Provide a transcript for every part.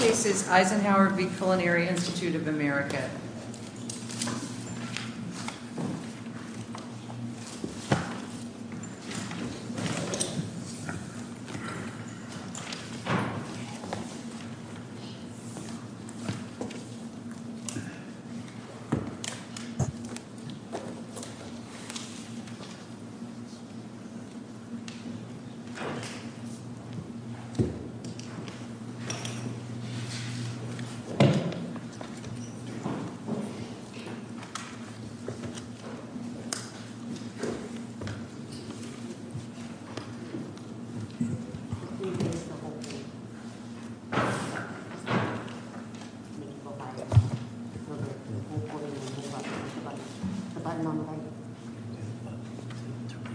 This case is Eisenhauer v. Culinary Institute of America. The case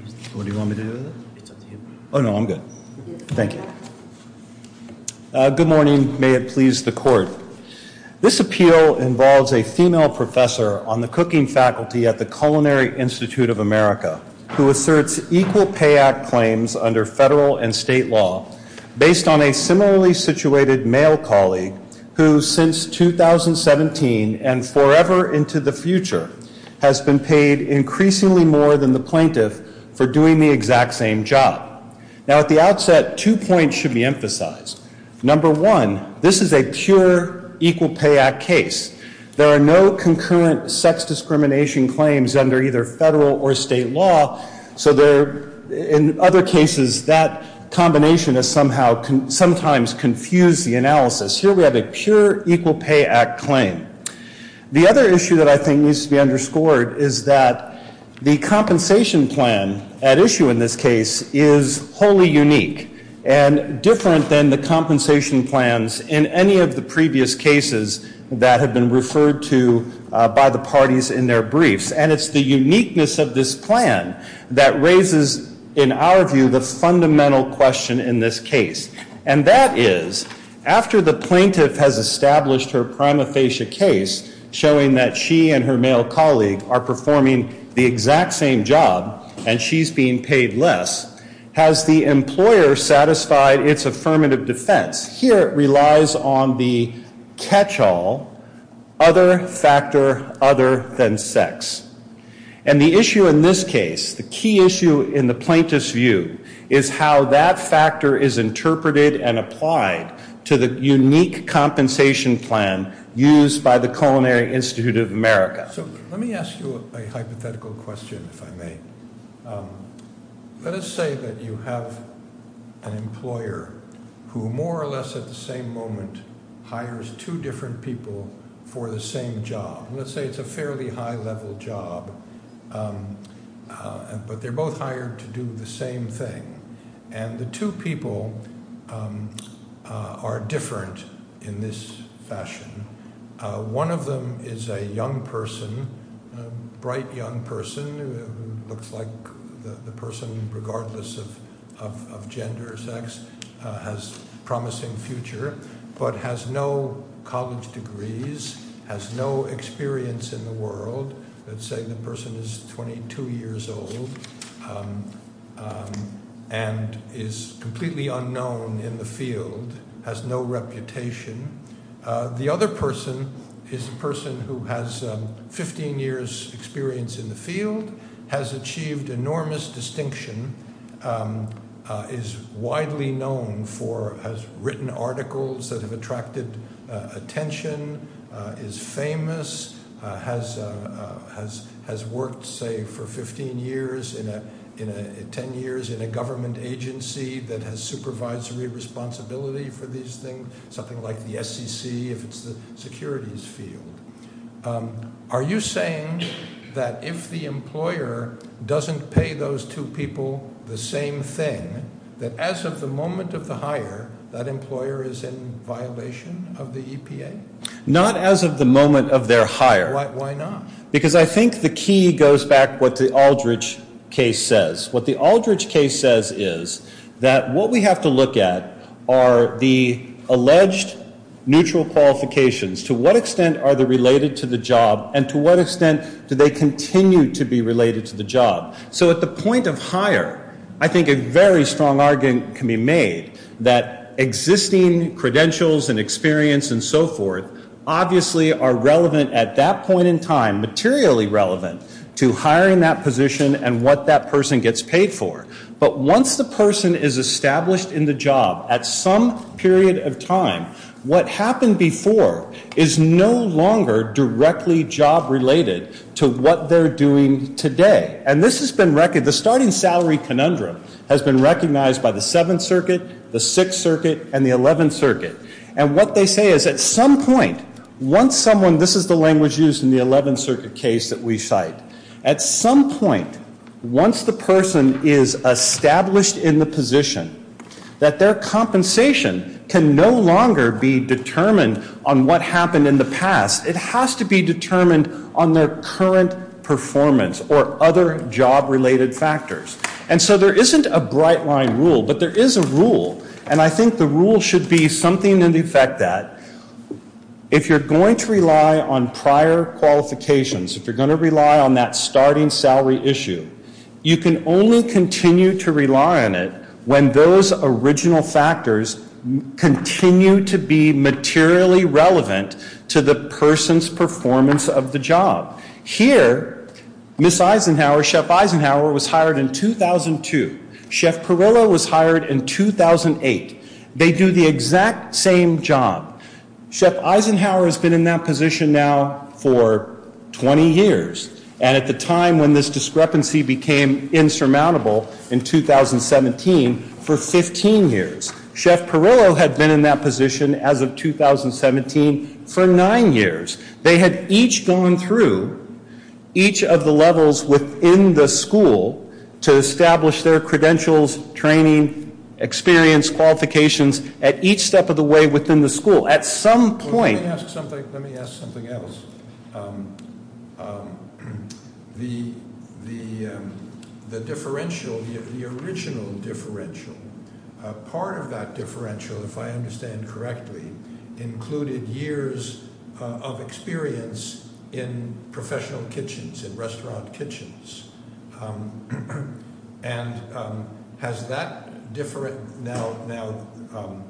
is Eisenhauer v. Culinary Institute of America. This appeal involves a female professor on the cooking faculty at the Culinary Institute of America, who asserts Equal Pay Act claims under federal and state law, based on a similarly situated male colleague who, since 2017 and forever into the future, has been paid increasingly more than the plaintiff for doing the exact same job. Now, at the outset, two points should be emphasized. Number one, this is a pure Equal Pay Act case. There are no concurrent sex discrimination claims under either federal or state law, so there, in other cases, that combination has somehow, sometimes confused the analysis. Here we have a pure Equal Pay Act claim. The other issue that I think needs to be underscored is that the compensation plan at issue in this case is wholly unique and different than the compensation plans in any of the previous cases that have been referred to by the parties in their briefs. And it's the uniqueness of this plan that raises, in our view, the fundamental question in this case. And that is, after the plaintiff has established her prima facie case showing that she and her male colleague are performing the exact same job and she's being paid less, has the employer satisfied its affirmative defense? Here it relies on the catch-all, other factor other than sex. And the issue in this case, the key issue in the plaintiff's view, is how that factor is interpreted and applied to the unique compensation plan used by the Culinary Institute of America. So let me ask you a hypothetical question, if I may. Let us say that you have an employer who, more or less at the same moment, hires two different people for the same job. Let's say it's a fairly high-level job, but they're both hired to do the same thing. And the two people are different in this fashion. One of them is a young person, a bright young person, who looks like the person regardless of gender or sex, has a promising future, but has no college degrees, has no experience in the world. Let's say the person is 22 years old and is completely unknown in the field, has no reputation. The other person is a person who has 15 years' experience in the field, has achieved enormous distinction, is widely known for has written articles that have attracted attention, is famous, has worked, say, for 15 years, 10 years in a government agency that has supervisory responsibility for these things, something like the SEC if it's the securities field. Are you saying that if the employer doesn't pay those two people the same thing, that as of the moment of the hire, that employer is in violation of the EPA? Not as of the moment of their hire. Why not? Because I think the key goes back to what the Aldridge case says. What the Aldridge case says is that what we have to look at are the alleged neutral qualifications. To what extent are they related to the job, and to what extent do they continue to be related to the job? So at the point of hire, I think a very strong argument can be made that existing credentials and experience and so forth obviously are relevant at that point in time, materially relevant, to hiring that position and what that person gets paid for. But once the person is established in the job, at some period of time, what happened before is no longer directly job-related to what they're doing today. And this has been recognized. The starting salary conundrum has been recognized by the Seventh Circuit, the Sixth Circuit, and the Eleventh Circuit. And what they say is at some point, once someone, this is the language used in the Eleventh Circuit case that we cite, at some point, once the person is established in the position, that their compensation can no longer be determined on what happened in the past. It has to be determined on their current performance or other job-related factors. And so there isn't a bright-line rule, but there is a rule. And I think the rule should be something in effect that if you're going to rely on prior qualifications, if you're going to rely on that starting salary issue, you can only continue to rely on it when those original factors continue to be materially relevant to the person's performance of the job. Here, Ms. Eisenhower, Chef Eisenhower, was hired in 2002. Chef Pirillo was hired in 2008. They do the exact same job. Chef Eisenhower has been in that position now for 20 years. And at the time when this discrepancy became insurmountable in 2017, for 15 years. Chef Pirillo had been in that position as of 2017 for nine years. They had each gone through each of the levels within the school to establish their credentials, training, experience, qualifications, at each step of the way within the school. At some point- Let me ask something else. The differential, the original differential, part of that differential, if I understand correctly, included years of experience in professional kitchens, in restaurant kitchens. And has that different now-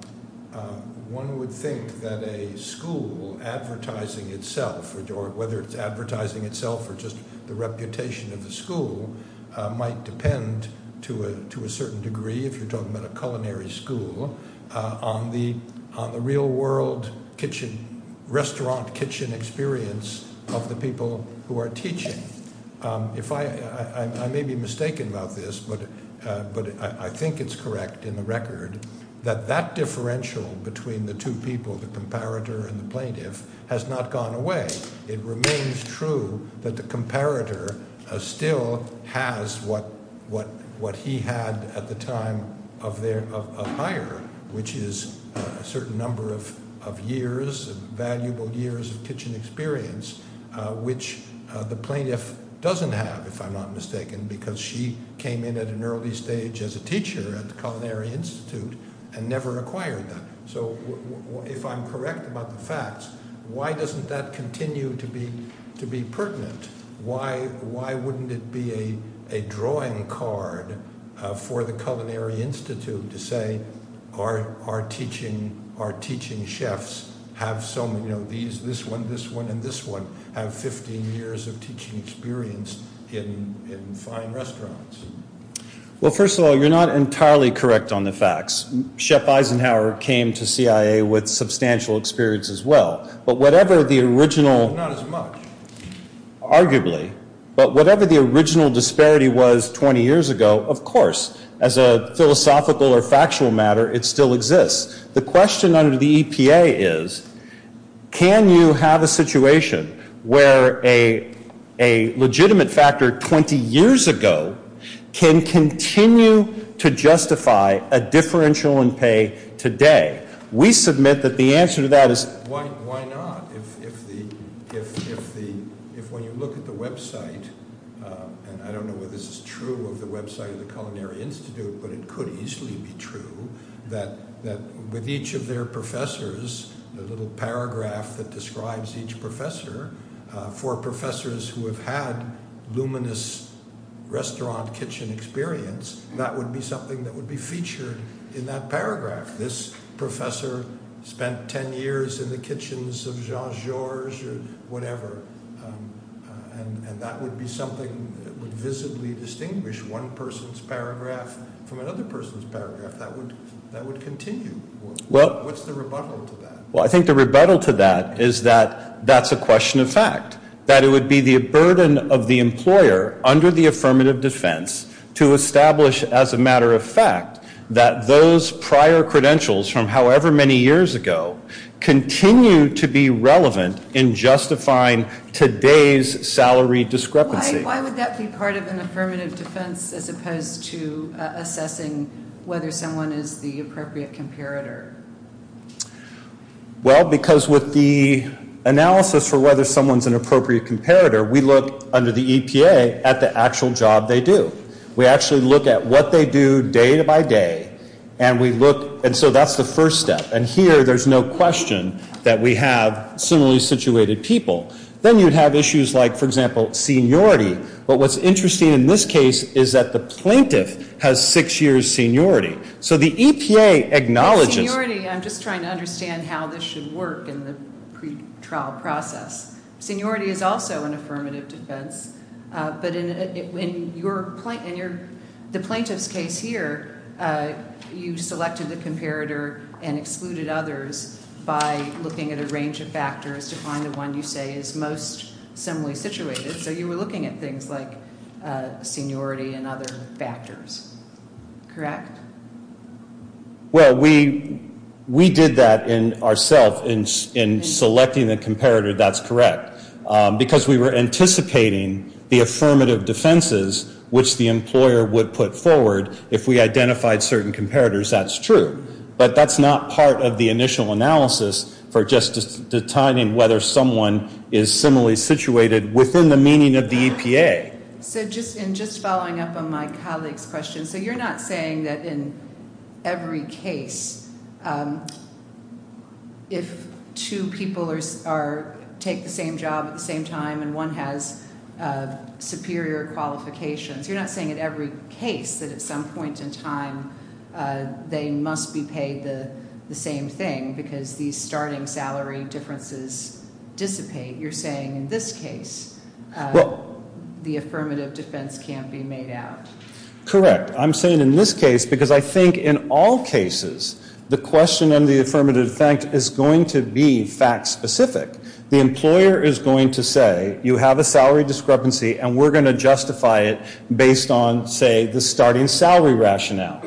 One would think that a school advertising itself, or whether it's advertising itself or just the reputation of the school, might depend to a certain degree, if you're talking about a culinary school, on the real world kitchen, restaurant kitchen experience of the people who are teaching. I may be mistaken about this, but I think it's correct in the record that that differential between the two people, the comparator and the plaintiff, has not gone away. It remains true that the comparator still has what he had at the time of hire, which is a certain number of years, valuable years of kitchen experience, which the plaintiff doesn't have, if I'm not mistaken, because she came in at an early stage as a teacher at the Culinary Institute and never acquired that. So if I'm correct about the facts, why doesn't that continue to be pertinent? Why wouldn't it be a drawing card for the Culinary Institute to say, our teaching chefs have so many, this one, this one, and this one, have 15 years of teaching experience in fine restaurants? Well, first of all, you're not entirely correct on the facts. Chef Eisenhower came to CIA with substantial experience as well. But whatever the original- Not as much. Arguably. But whatever the original disparity was 20 years ago, of course, as a philosophical or factual matter, it still exists. The question under the EPA is, can you have a situation where a legitimate factor 20 years ago can continue to justify a differential in pay today? We submit that the answer to that is- Why not? If when you look at the website, and I don't know whether this is true of the website of the Culinary Institute, but it could easily be true, that with each of their professors, the little paragraph that describes each professor, for professors who have had luminous restaurant kitchen experience, that would be something that would be featured in that paragraph. This professor spent 10 years in the kitchens of Jean Georges or whatever, and that would be something that would visibly distinguish one person's paragraph from another person's paragraph. That would continue. What's the rebuttal to that? Well, I think the rebuttal to that is that that's a question of fact, that it would be the burden of the employer under the affirmative defense to establish as a matter of fact that those prior credentials from however many years ago continue to be relevant in justifying today's salary discrepancy. Why would that be part of an affirmative defense as opposed to assessing whether someone is the appropriate comparator? Well, because with the analysis for whether someone's an appropriate comparator, we look under the EPA at the actual job they do. We actually look at what they do day by day, and we look, and so that's the first step. And here there's no question that we have similarly situated people. Then you'd have issues like, for example, seniority. But what's interesting in this case is that the plaintiff has six years seniority. So the EPA acknowledges- With seniority, I'm just trying to understand how this should work in the pretrial process. Seniority is also an affirmative defense. But in the plaintiff's case here, you selected the comparator and excluded others by looking at a range of factors to find the one you say is most similarly situated. So you were looking at things like seniority and other factors, correct? Well, we did that ourself in selecting the comparator. That's correct. Because we were anticipating the affirmative defenses, which the employer would put forward if we identified certain comparators. That's true. But that's not part of the initial analysis for just determining whether someone is similarly situated within the meaning of the EPA. So just following up on my colleague's question, so you're not saying that in every case if two people take the same job at the same time and one has superior qualifications, you're not saying in every case that at some point in time they must be paid the same thing because these starting salary differences dissipate. You're saying in this case the affirmative defense can't be made out. Correct. I'm saying in this case because I think in all cases the question in the affirmative defense is going to be fact specific. The employer is going to say you have a salary discrepancy and we're going to justify it based on, say, the starting salary rationale.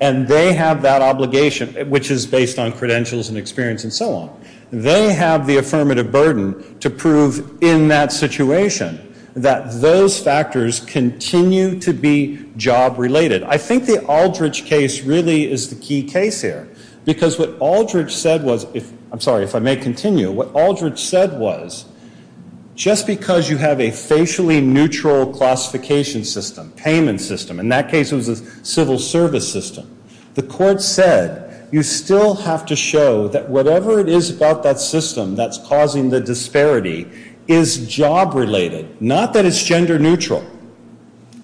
And they have that obligation, which is based on credentials and experience and so on. They have the affirmative burden to prove in that situation that those factors continue to be job related. I think the Aldridge case really is the key case here because what Aldridge said was, I'm sorry, if I may continue, what Aldridge said was just because you have a facially neutral classification system, payment system, in that case it was a civil service system, the court said you still have to show that whatever it is about that system that's causing the disparity is job related, not that it's gender neutral.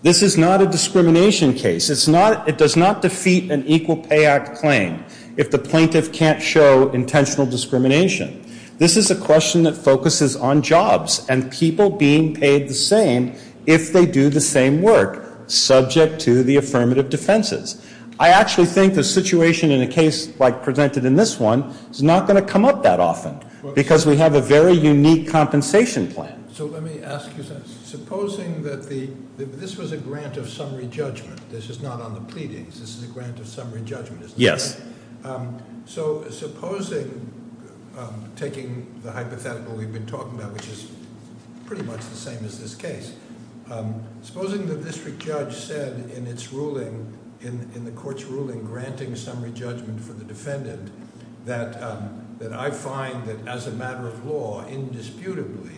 This is not a discrimination case. It does not defeat an Equal Pay Act claim if the plaintiff can't show intentional discrimination. This is a question that focuses on jobs and people being paid the same if they do the same work, subject to the affirmative defenses. I actually think the situation in a case like presented in this one is not going to come up that often because we have a very unique compensation plan. So let me ask you something. Supposing that the, this was a grant of summary judgment. This is not on the pleadings. This is a grant of summary judgment. Yes. So supposing, taking the hypothetical we've been talking about, which is pretty much the same as this case. Supposing the district judge said in its ruling, in the court's ruling granting summary judgment for the defendant that I find that as a matter of law, indisputably,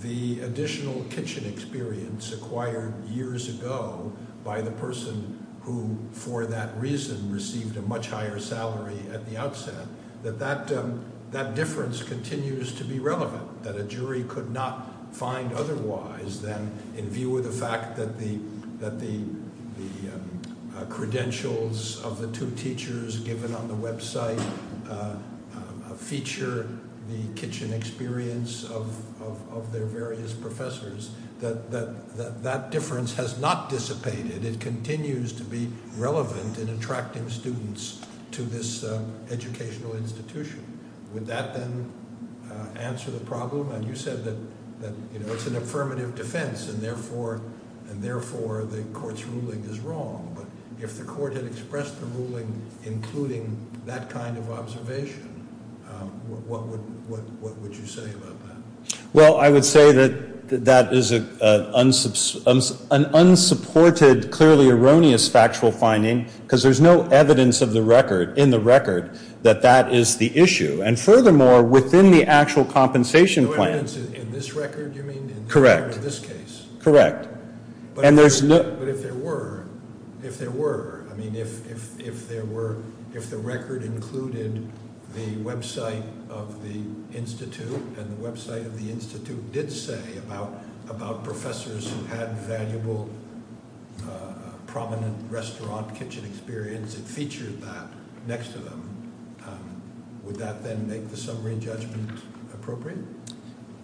the additional kitchen experience acquired years ago by the person who for that reason received a much higher salary at the outset, that that difference continues to be relevant. That a jury could not find otherwise than in view of the fact that the credentials of the two teachers given on the website feature the kitchen experience of their various professors. That difference has not dissipated. It continues to be relevant in attracting students to this educational institution. Would that then answer the problem? And you said that it's an affirmative defense and therefore the court's ruling is wrong. But if the court had expressed the ruling including that kind of observation, what would you say about that? Well, I would say that that is an unsupported, clearly erroneous factual finding because there's no evidence of the record, in the record, that that is the issue. And furthermore, within the actual compensation plan. No evidence in this record, you mean? Correct. In this case? Correct. But if there were, if there were, I mean if there were, if the record included the website of the institute and the website of the institute did say about professors who had valuable, prominent restaurant kitchen experience and featured that next to them, would that then make the summary judgment appropriate?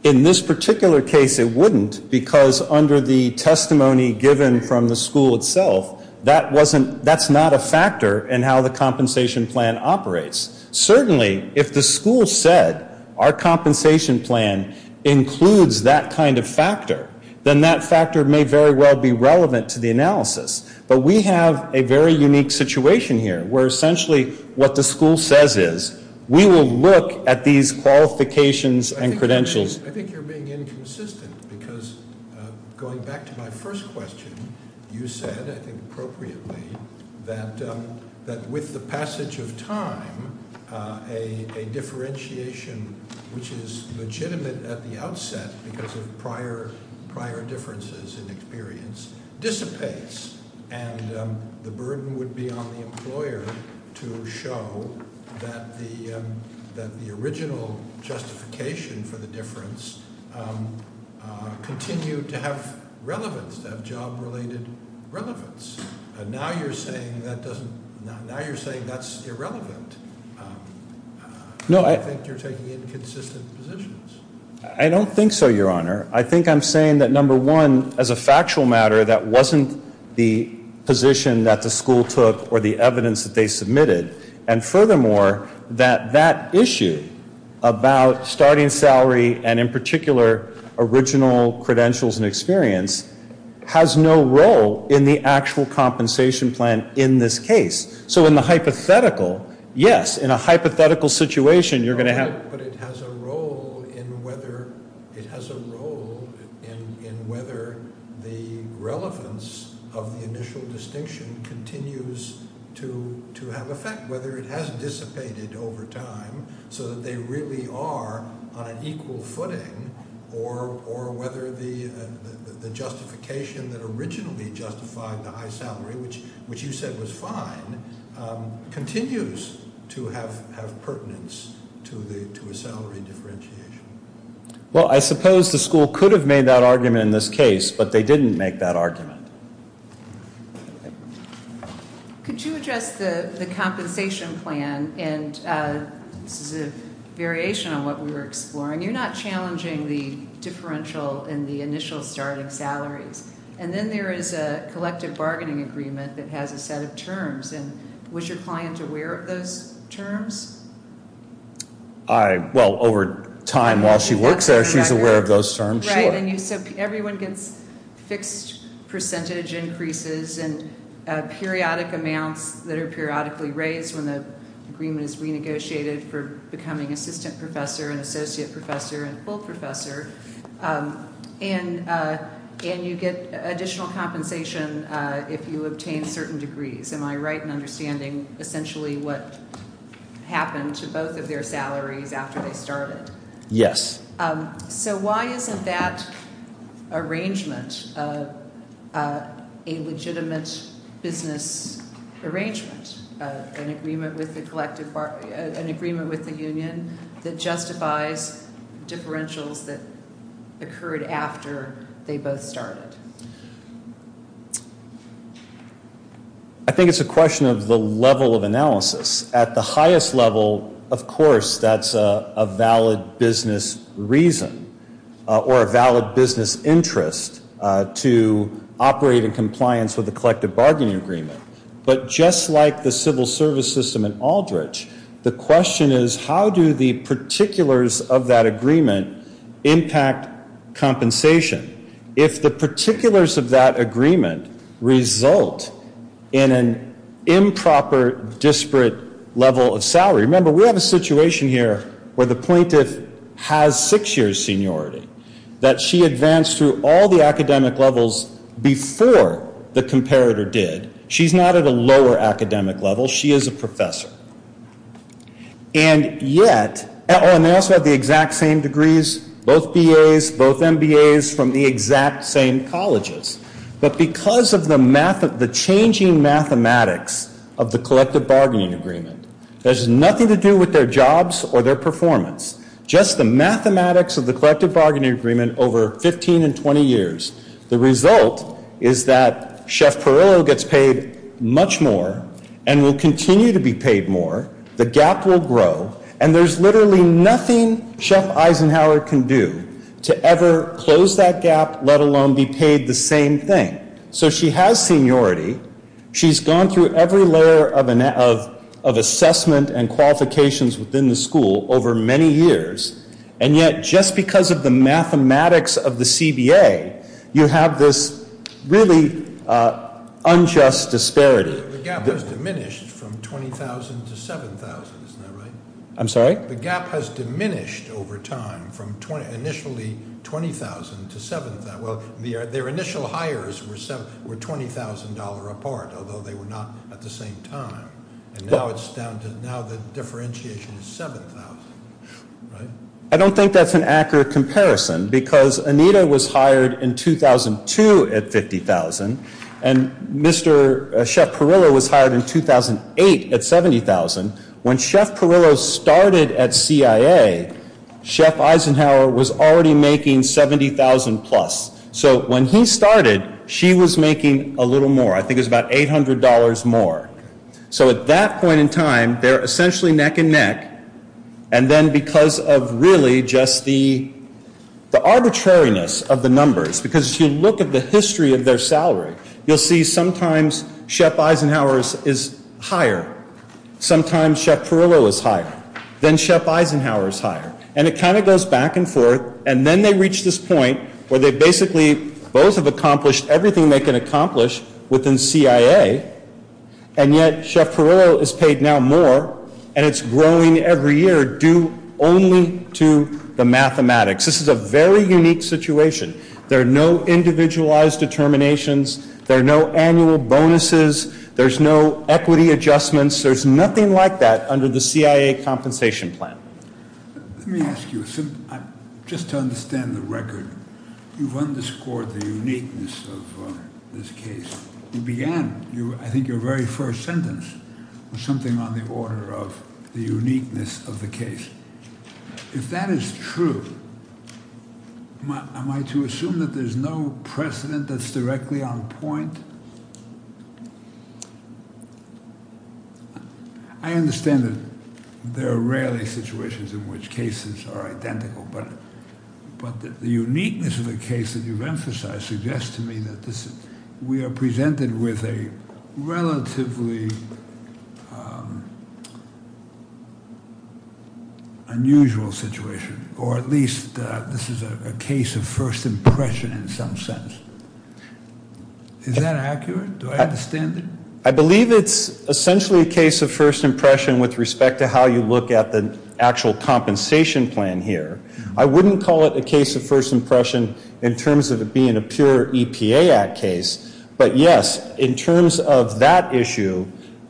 In this particular case, it wouldn't because under the testimony given from the school itself, that wasn't, that's not a factor in how the compensation plan operates. Certainly, if the school said our compensation plan includes that kind of factor, then that factor may very well be relevant to the analysis. But we have a very unique situation here where essentially what the school says is we will look at these qualifications and credentials. I think you're being inconsistent because going back to my first question, you said, I think appropriately, that with the passage of time, a differentiation which is legitimate at the outset because of prior differences in experience dissipates and the burden would be on the employer to show that the original justification for the difference continued to have relevance, to have job related relevance. Now you're saying that doesn't, now you're saying that's irrelevant. No, I- I think you're taking inconsistent positions. I don't think so, your honor. I think I'm saying that number one, as a factual matter, that wasn't the position that the school took or the evidence that they submitted. And furthermore, that that issue about starting salary and in particular, original credentials and experience has no role in the actual compensation plan in this case. So in the hypothetical, yes, in a hypothetical situation, you're going to have- but it has a role in whether the relevance of the initial distinction continues to have effect, whether it has dissipated over time so that they really are on an equal footing or whether the justification that originally justified the high salary, which you said was fine, continues to have pertinence to a salary differentiation. Well, I suppose the school could have made that argument in this case, but they didn't make that argument. Could you address the compensation plan? And this is a variation on what we were exploring. You're not challenging the differential in the initial starting salaries. And then there is a collective bargaining agreement that has a set of terms. And was your client aware of those terms? Well, over time while she works there, she's aware of those terms. So everyone gets fixed percentage increases and periodic amounts that are periodically raised when the agreement is renegotiated for becoming assistant professor and associate professor and full professor. And you get additional compensation if you obtain certain degrees. Am I right in understanding essentially what happened to both of their salaries after they started? Yes. So why isn't that arrangement a legitimate business arrangement, an agreement with the union that justifies differentials that occurred after they both started? I think it's a question of the level of analysis. At the highest level, of course, that's a valid business reason or a valid business interest to operate in compliance with the collective bargaining agreement. But just like the civil service system in Aldrich, the question is how do the particulars of that agreement impact compensation? If the particulars of that agreement result in an improper disparate level of salary, remember we have a situation here where the plaintiff has six years seniority, that she advanced through all the academic levels before the comparator did. She's not at a lower academic level. She is a professor. And yet, and they also have the exact same degrees, both BAs, both MBAs from the exact same colleges. But because of the changing mathematics of the collective bargaining agreement, there's nothing to do with their jobs or their performance, just the mathematics of the collective bargaining agreement over 15 and 20 years. The result is that Chef Perillo gets paid much more and will continue to be paid more. The gap will grow. And there's literally nothing Chef Eisenhower can do to ever close that gap, let alone be paid the same thing. So she has seniority. She's gone through every layer of assessment and qualifications within the school over many years. And yet, just because of the mathematics of the CBA, you have this really unjust disparity. The gap has diminished from $20,000 to $7,000, isn't that right? I'm sorry? The gap has diminished over time from initially $20,000 to $7,000. Well, their initial hires were $20,000 apart, although they were not at the same time. Now the differentiation is $7,000, right? I don't think that's an accurate comparison because Anita was hired in 2002 at $50,000, and Chef Perillo was hired in 2008 at $70,000. When Chef Perillo started at CIA, Chef Eisenhower was already making $70,000 plus. So when he started, she was making a little more. I think it was about $800 more. So at that point in time, they're essentially neck and neck. And then because of really just the arbitrariness of the numbers, because if you look at the history of their salary, you'll see sometimes Chef Eisenhower is higher. Sometimes Chef Perillo is higher. Then Chef Eisenhower is higher. And it kind of goes back and forth. And then they reach this point where they basically both have accomplished everything they can accomplish within CIA, and yet Chef Perillo is paid now more, and it's growing every year due only to the mathematics. This is a very unique situation. There are no individualized determinations. There are no annual bonuses. There's no equity adjustments. There's nothing like that under the CIA compensation plan. Let me ask you, just to understand the record, you've underscored the uniqueness of this case. You began, I think, your very first sentence with something on the order of the uniqueness of the case. If that is true, am I to assume that there's no precedent that's directly on point? I understand that there are rarely situations in which cases are identical, but the uniqueness of the case that you've emphasized suggests to me that we are presented with a relatively unusual situation, or at least this is a case of first impression in some sense. Is that accurate? Do I understand it? I believe it's essentially a case of first impression with respect to how you look at the actual compensation plan here. I wouldn't call it a case of first impression in terms of it being a pure EPA Act case. But, yes, in terms of that issue,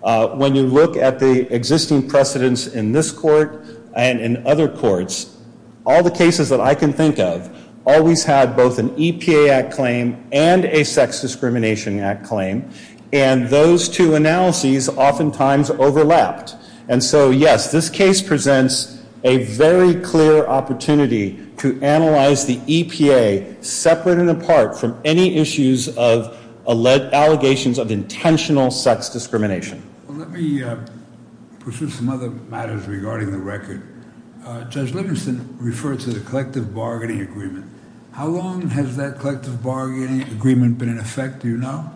when you look at the existing precedents in this court and in other courts, all the cases that I can think of always had both an EPA Act claim and a Sex Discrimination Act claim, and those two analyses oftentimes overlapped. And so, yes, this case presents a very clear opportunity to analyze the EPA separate and apart from any issues of allegations of intentional sex discrimination. Well, let me pursue some other matters regarding the record. Judge Livingston referred to the collective bargaining agreement. How long has that collective bargaining agreement been in effect? Do you know?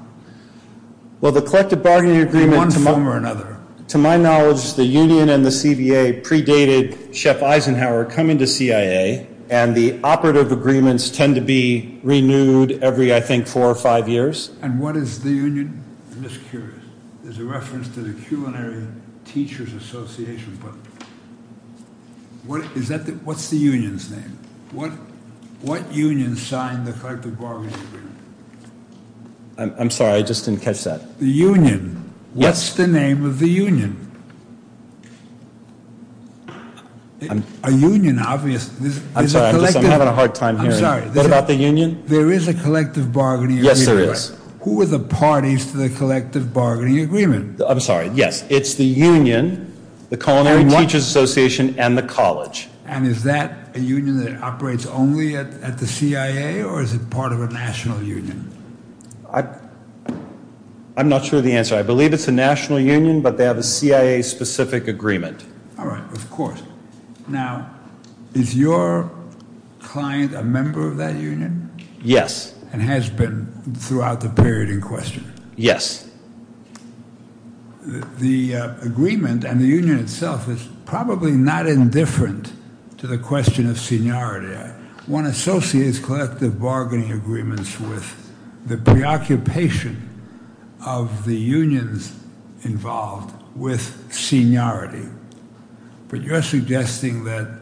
Well, the collective bargaining agreement, to my knowledge, the union and the CBA predated Chef Eisenhower coming to CIA, and the operative agreements tend to be renewed every, I think, four or five years. And what is the union? I'm just curious. There's a reference to the Culinary Teachers Association, but what's the union's name? What union signed the collective bargaining agreement? I'm sorry. I just didn't catch that. The union. Yes. What's the name of the union? A union, obviously. I'm sorry. I'm having a hard time hearing you. I'm sorry. What about the union? There is a collective bargaining agreement. Yes, there is. Who are the parties to the collective bargaining agreement? I'm sorry. Yes, it's the union, the Culinary Teachers Association, and the college. And is that a union that operates only at the CIA, or is it part of a national union? I'm not sure of the answer. I believe it's a national union, but they have a CIA-specific agreement. All right. Of course. Now, is your client a member of that union? Yes. And has been throughout the period in question? Yes. The agreement and the union itself is probably not indifferent to the question of seniority. One associates collective bargaining agreements with the preoccupation of the unions involved with seniority. But you're suggesting that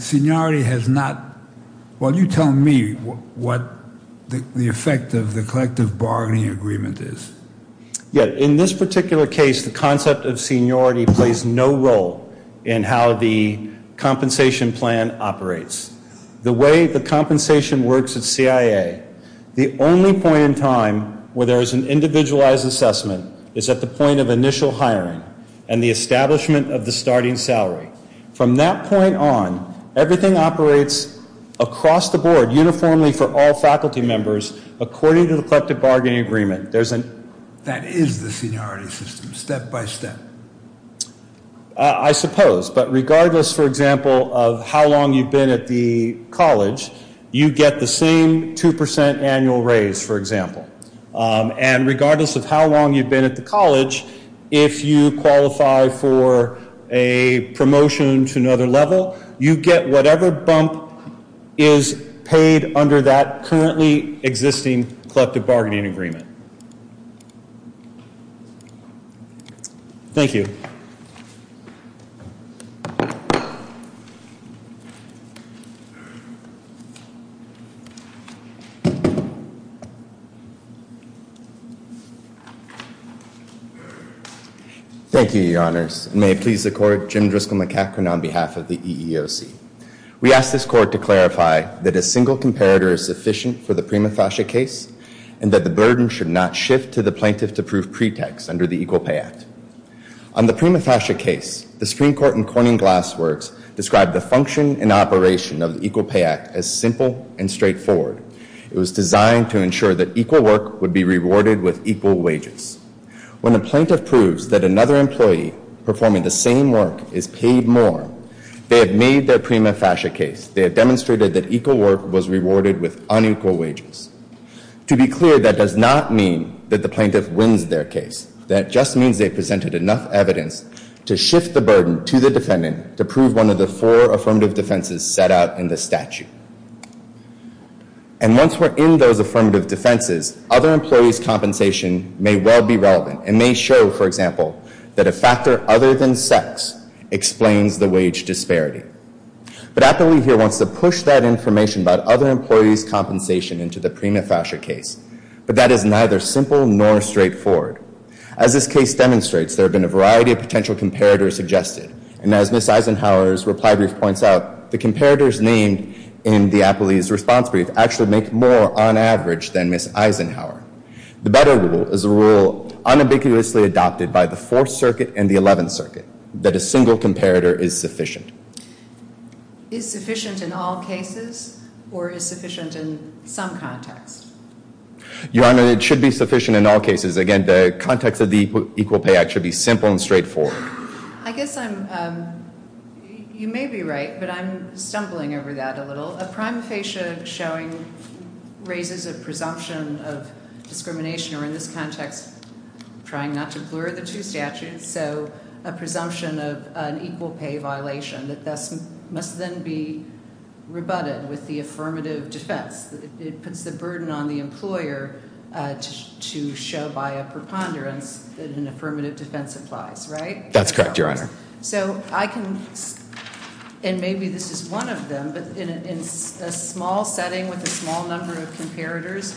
seniority has not – well, you tell me what the effect of the collective bargaining agreement is. In this particular case, the concept of seniority plays no role in how the compensation plan operates. The way the compensation works at CIA, the only point in time where there is an individualized assessment is at the point of initial hiring and the establishment of the starting salary. From that point on, everything operates across the board uniformly for all faculty members according to the collective bargaining agreement. That is the seniority system, step by step. I suppose. But regardless, for example, of how long you've been at the college, you get the same 2% annual raise, for example. And regardless of how long you've been at the college, if you qualify for a promotion to another level, you get whatever bump is paid under that currently existing collective bargaining agreement. Thank you. Thank you. Thank you, your honors. May it please the court, Jim Driscoll McEachran on behalf of the EEOC. We ask this court to clarify that a single comparator is sufficient for the prima facie case and that the burden should not shift to the plaintiff to prove pretext under the Equal Pay Act. On the prima facie case, the Supreme Court in Corning Glass Works described the function and operation of the Equal Pay Act as simple and straightforward. It was designed to ensure that equal work would be rewarded with equal wages. When a plaintiff proves that another employee performing the same work is paid more, they have made their prima facie case. They have demonstrated that equal work was rewarded with unequal wages. To be clear, that does not mean that the plaintiff wins their case. That just means they presented enough evidence to shift the burden to the defendant to prove one of the four affirmative defenses set out in the statute. And once we're in those affirmative defenses, other employees' compensation may well be relevant and may show, for example, that a factor other than sex explains the wage disparity. But Appleby here wants to push that information about other employees' compensation into the prima facie case. But that is neither simple nor straightforward. As this case demonstrates, there have been a variety of potential comparators suggested. And as Ms. Eisenhower's reply brief points out, the comparators named in the Appleby's response brief actually make more on average than Ms. Eisenhower. The better rule is a rule unambiguously adopted by the Fourth Circuit and the Eleventh Circuit that a single comparator is sufficient. Is sufficient in all cases, or is sufficient in some contexts? Your Honor, it should be sufficient in all cases. Again, the context of the Equal Pay Act should be simple and straightforward. I guess I'm, you may be right, but I'm stumbling over that a little. A prima facie showing raises a presumption of discrimination, or in this context, trying not to blur the two statutes, so a presumption of an equal pay violation that must then be rebutted with the affirmative defense. It puts the burden on the employer to show by a preponderance that an affirmative defense applies, right? That's correct, Your Honor. So I can, and maybe this is one of them, but in a small setting with a small number of comparators,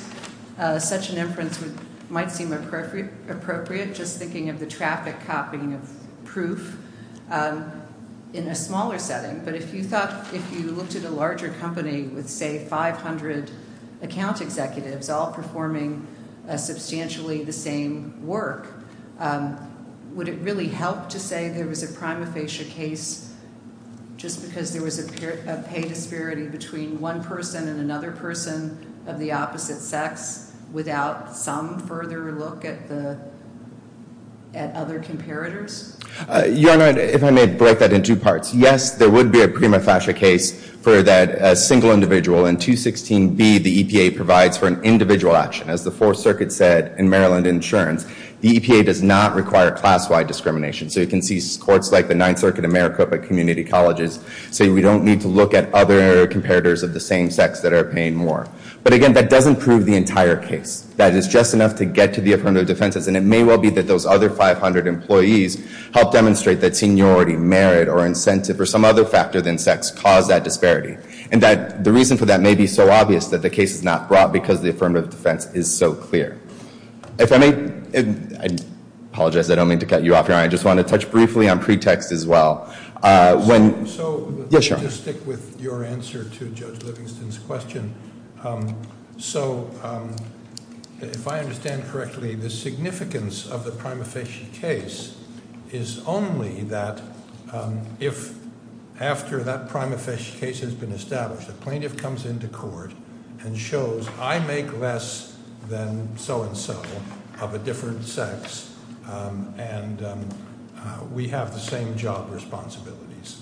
such an inference might seem appropriate just thinking of the traffic copying of proof in a smaller setting. But if you thought, if you looked at a larger company with, say, 500 account executives all performing substantially the same work, would it really help to say there was a prima facie case just because there was a pay disparity between one person and another person of the opposite sex without some further look at the, at other comparators? Your Honor, if I may break that in two parts. Yes, there would be a prima facie case for that single individual. In 216B, the EPA provides for an individual action. As the Fourth Circuit said in Maryland Insurance, the EPA does not require class-wide discrimination. So you can see courts like the Ninth Circuit and Maricopa Community Colleges say we don't need to look at other comparators of the same sex that are paying more. But again, that doesn't prove the entire case. That is just enough to get to the affirmative defenses. And it may well be that those other 500 employees help demonstrate that seniority, merit, or incentive, or some other factor than sex caused that disparity. And that the reason for that may be so obvious that the case is not brought because the affirmative defense is so clear. If I may, I apologize, I don't mean to cut you off, Your Honor. I just want to touch briefly on pretext as well. When- So- Yes, Your Honor. Let me just stick with your answer to Judge Livingston's question. So, if I understand correctly, the significance of the prima facie case is only that if after that prima facie case has been established, a plaintiff comes into court and shows I make less than so-and-so of a different sex and we have the same job responsibilities.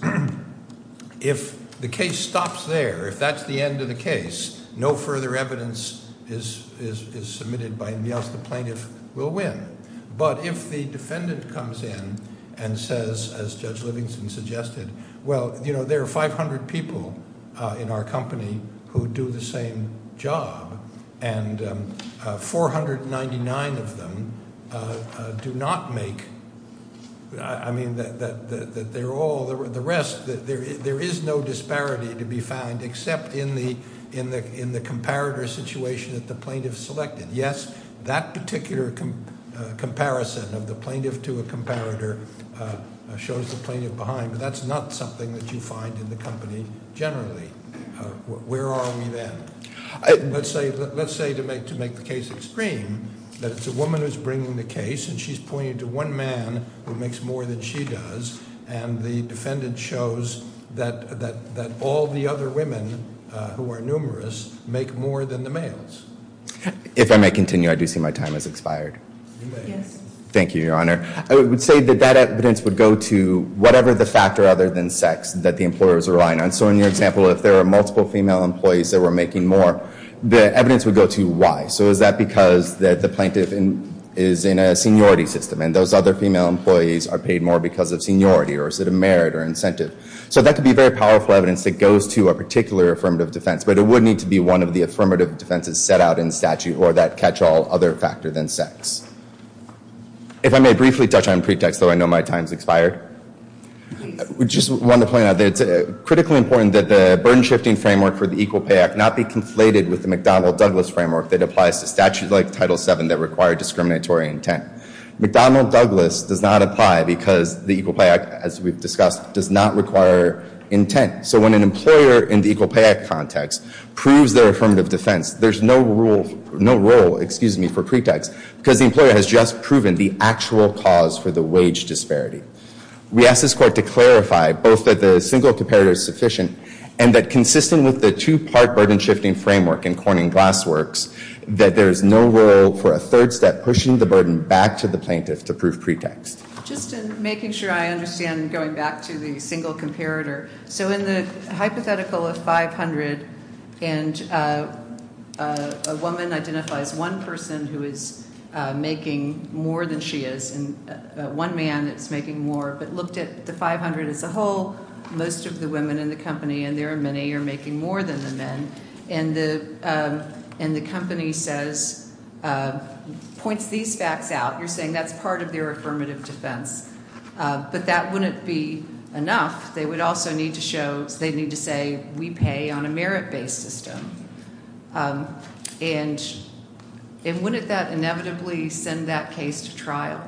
If the case stops there, if that's the end of the case, no further evidence is submitted by anybody else. The plaintiff will win. But if the defendant comes in and says, as Judge Livingston suggested, well, you know, there are 500 people in our company who do the same job and 499 of them do not make-I mean that they're all-the rest-there is no disparity to be found except in the comparator situation that the plaintiff selected. Yes, that particular comparison of the plaintiff to a comparator shows the plaintiff behind, but that's not something that you find in the company generally. Where are we then? Let's say to make the case extreme that it's a woman who's bringing the case and she's pointing to one man who makes more than she does, and the defendant shows that all the other women who are numerous make more than the males. If I may continue, I do see my time has expired. You may. Yes. Thank you, Your Honor. I would say that that evidence would go to whatever the factor other than sex that the employer is relying on. So in your example, if there are multiple female employees that were making more, the evidence would go to why. So is that because the plaintiff is in a seniority system and those other female employees are paid more because of seniority or merit or incentive? So that could be very powerful evidence that goes to a particular affirmative defense, but it would need to be one of the affirmative defenses set out in statute or that catch-all other factor than sex. If I may briefly touch on pretext, though, I know my time has expired. We just want to point out that it's critically important that the burden-shifting framework for the Equal Pay Act not be conflated with the McDonnell-Douglas framework that applies to statutes like Title VII that require discriminatory intent. McDonnell-Douglas does not apply because the Equal Pay Act, as we've discussed, does not require intent. So when an employer in the Equal Pay Act context proves their affirmative defense, there's no role for pretext because the employer has just proven the actual cause for the wage disparity. We ask this Court to clarify both that the single comparator is sufficient and that consistent with the two-part burden-shifting framework in Corning-Glass works, that there is no role for a third step pushing the burden back to the plaintiff to prove pretext. Just in making sure I understand going back to the single comparator, so in the hypothetical of 500 and a woman identifies one person who is making more than she is and one man that's making more, but looked at the 500 as a whole, most of the women in the company and there are many are making more than the men, and the company says, points these facts out. You're saying that's part of their affirmative defense. But that wouldn't be enough. They would also need to show, they'd need to say, we pay on a merit-based system. And wouldn't that inevitably send that case to trial?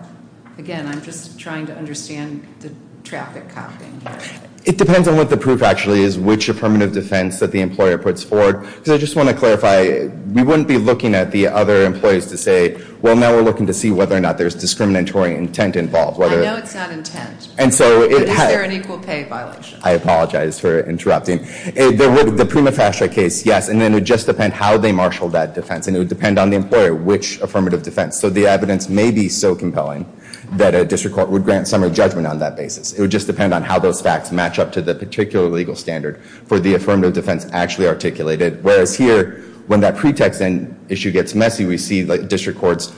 Again, I'm just trying to understand the traffic copping here. It depends on what the proof actually is, which affirmative defense that the employer puts forward. Because I just want to clarify, we wouldn't be looking at the other employees to say, well, now we're looking to see whether or not there's discriminatory intent involved. I know it's not intent, but is there an equal pay violation? I apologize for interrupting. The prima facie case, yes, and then it would just depend how they marshal that defense. And it would depend on the employer which affirmative defense. So the evidence may be so compelling that a district court would grant summary judgment on that basis. It would just depend on how those facts match up to the particular legal standard for the affirmative defense actually articulated. Whereas here, when that pretext and issue gets messy, we see district courts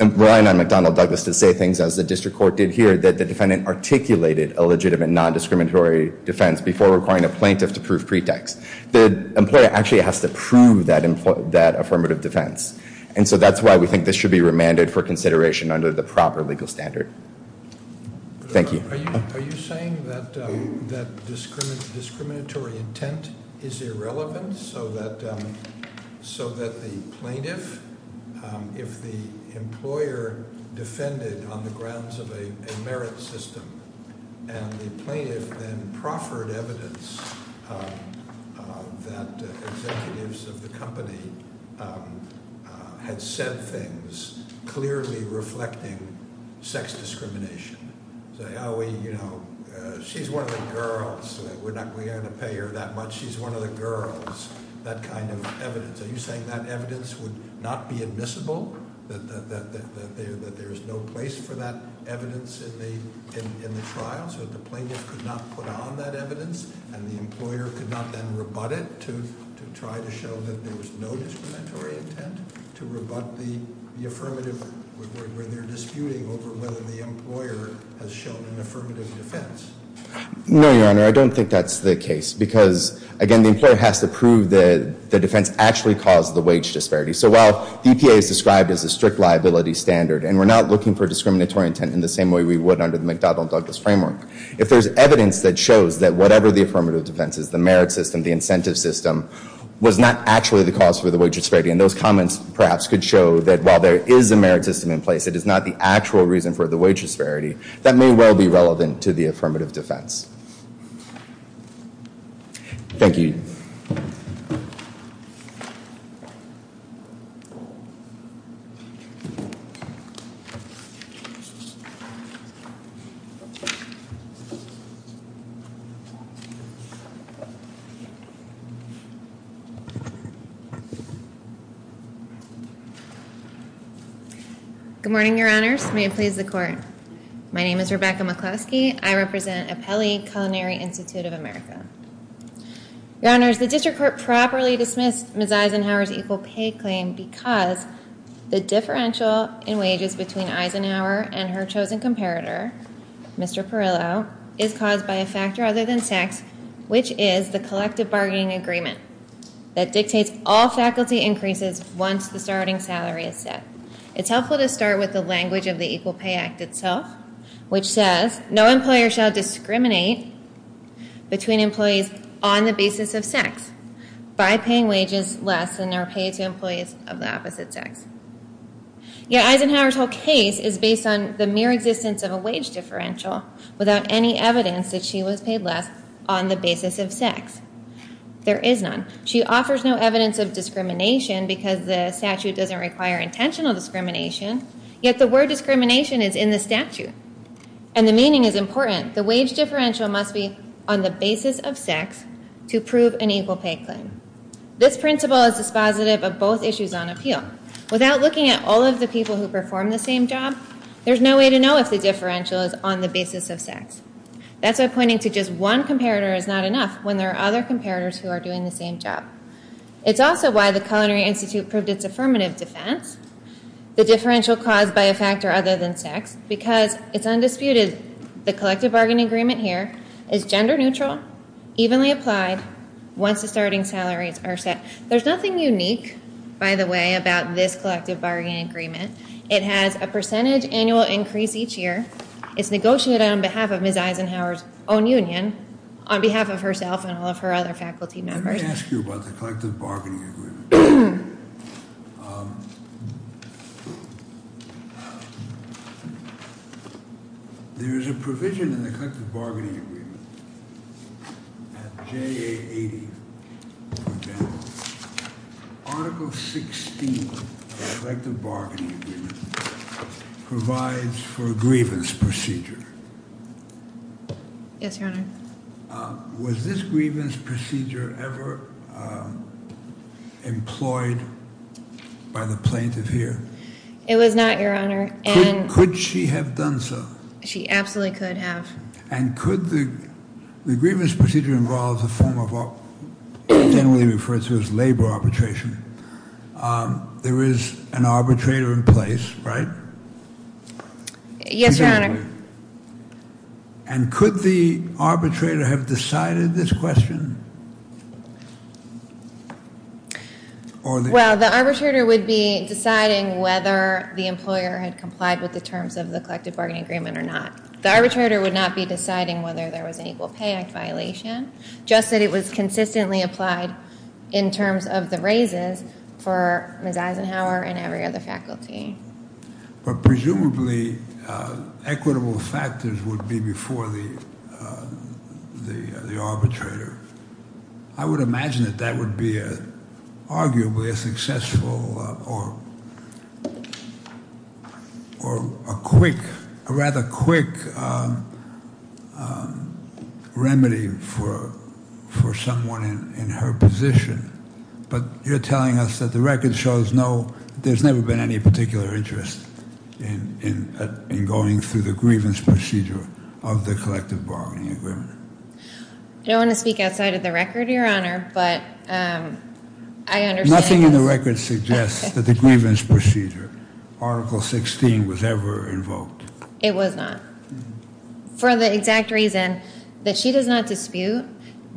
relying on McDonnell Douglas to say things as the district court did here, that the defendant articulated a legitimate non-discriminatory defense before requiring a plaintiff to prove pretext. The employer actually has to prove that affirmative defense. And so that's why we think this should be remanded for consideration under the proper legal standard. Thank you. Are you saying that discriminatory intent is irrelevant so that the plaintiff, if the employer defended on the grounds of a merit system, and the plaintiff then proffered evidence that executives of the company had said things clearly reflecting sex discrimination? Say, oh, you know, she's one of the girls. We're not going to pay her that much. She's one of the girls. That kind of evidence. Are you saying that evidence would not be admissible, that there is no place for that evidence in the trial, so that the plaintiff could not put on that evidence and the employer could not then rebut it to try to show that there was no discriminatory intent to rebut the affirmative, where they're disputing over whether the employer has shown an affirmative defense? No, Your Honor, I don't think that's the case because, again, the employer has to prove that the defense actually caused the wage disparity. So while EPA is described as a strict liability standard, and we're not looking for discriminatory intent in the same way we would under the McDonald-Douglas framework, if there's evidence that shows that whatever the affirmative defense is, the merit system, the incentive system, was not actually the cause for the wage disparity, and those comments perhaps could show that while there is a merit system in place, it is not the actual reason for the wage disparity, that may well be relevant to the affirmative defense. Thank you. Good morning, Your Honors. May it please the Court. My name is Rebecca McCloskey. I represent Apelli Culinary Institute of America. Your Honors, the District Court properly dismissed Ms. Eisenhower's equal pay claim because the differential in wages between Eisenhower and her chosen comparator, Mr. Perillo, is caused by a factor other than tax, which is the collective bargaining agreement that dictates all faculty increases once the starting salary is set. It's helpful to start with the language of the Equal Pay Act itself, which says no employer shall discriminate between employees on the basis of sex by paying wages less than are paid to employees of the opposite sex. Yet Eisenhower's whole case is based on the mere existence of a wage differential without any evidence that she was paid less on the basis of sex. There is none. She offers no evidence of discrimination because the statute doesn't require intentional discrimination, yet the word discrimination is in the statute, and the meaning is important. The wage differential must be on the basis of sex to prove an equal pay claim. This principle is dispositive of both issues on appeal. Without looking at all of the people who perform the same job, there's no way to know if the differential is on the basis of sex. That's why pointing to just one comparator is not enough when there are other comparators who are doing the same job. It's also why the Culinary Institute proved its affirmative defense, the differential caused by a factor other than sex, because it's undisputed the collective bargaining agreement here is gender neutral, evenly applied, once the starting salaries are set. There's nothing unique, by the way, about this collective bargaining agreement. It has a percentage annual increase each year. It's negotiated on behalf of Ms. Eisenhower's own union, on behalf of herself and all of her other faculty members. Let me ask you about the collective bargaining agreement. There is a provision in the collective bargaining agreement at JA80, for example. Article 16 of the collective bargaining agreement provides for a grievance procedure. Yes, Your Honor. Was this grievance procedure ever employed by the plaintiff here? It was not, Your Honor. Could she have done so? She absolutely could have. The grievance procedure generally refers to as labor arbitration. There is an arbitrator in place, right? Yes, Your Honor. Could the arbitrator have decided this question? Well, the arbitrator would be deciding whether the employer had complied with the terms of the collective bargaining agreement or not. The arbitrator would not be deciding whether there was an Equal Pay Act violation, just that it was consistently applied in terms of the raises for Ms. Eisenhower and every other faculty. Presumably, equitable factors would be before the arbitrator. I would imagine that that would be arguably a successful or a quick, a rather quick remedy for someone in her position. But you're telling us that the record shows no, there's never been any particular interest in going through the grievance procedure of the collective bargaining agreement. I don't want to speak outside of the record, Your Honor, but I understand... Nothing in the record suggests that the grievance procedure, Article 16, was ever invoked. It was not. For the exact reason that she does not dispute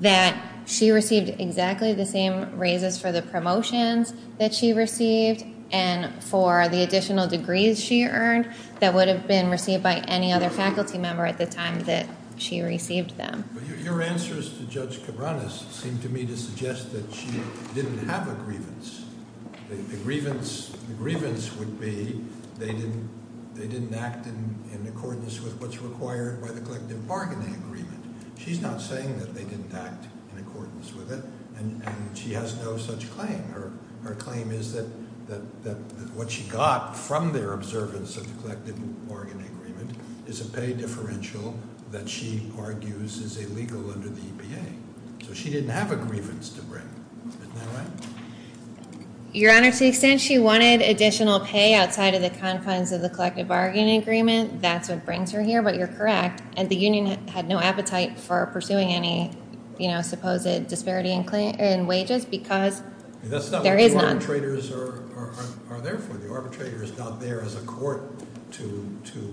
that she received exactly the same raises for the promotions that she received and for the additional degrees she earned that would have been received by any other faculty member at the time that she received them. Your answers to Judge Cabranes seem to me to suggest that she didn't have a grievance. The grievance would be they didn't act in accordance with what's required by the collective bargaining agreement. She's not saying that they didn't act in accordance with it, and she has no such claim. Her claim is that what she got from their observance of the collective bargaining agreement is a pay differential that she argues is illegal under the EPA. So she didn't have a grievance to bring. Isn't that right? Your Honor, to the extent she wanted additional pay outside of the confines of the collective bargaining agreement, that's what brings her here, but you're correct. And the union had no appetite for pursuing any, you know, supposed disparity in wages because... That's not what the arbitrators are there for. The arbitrator is not there as a court to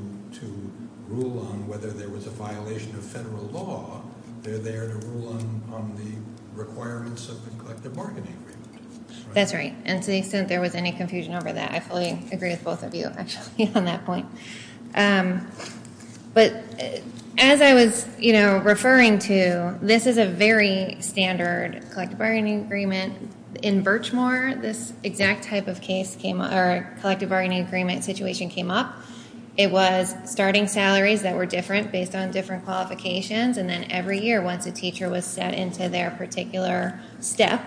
rule on whether there was a violation of federal law. They're there to rule on the requirements of the collective bargaining agreement. That's right, and to the extent there was any confusion over that, I fully agree with both of you actually on that point. But as I was, you know, referring to, this is a very standard collective bargaining agreement. In Birchmore, this exact type of case came up, or collective bargaining agreement situation came up. It was starting salaries that were different based on different qualifications, and then every year once a teacher was set into their particular step,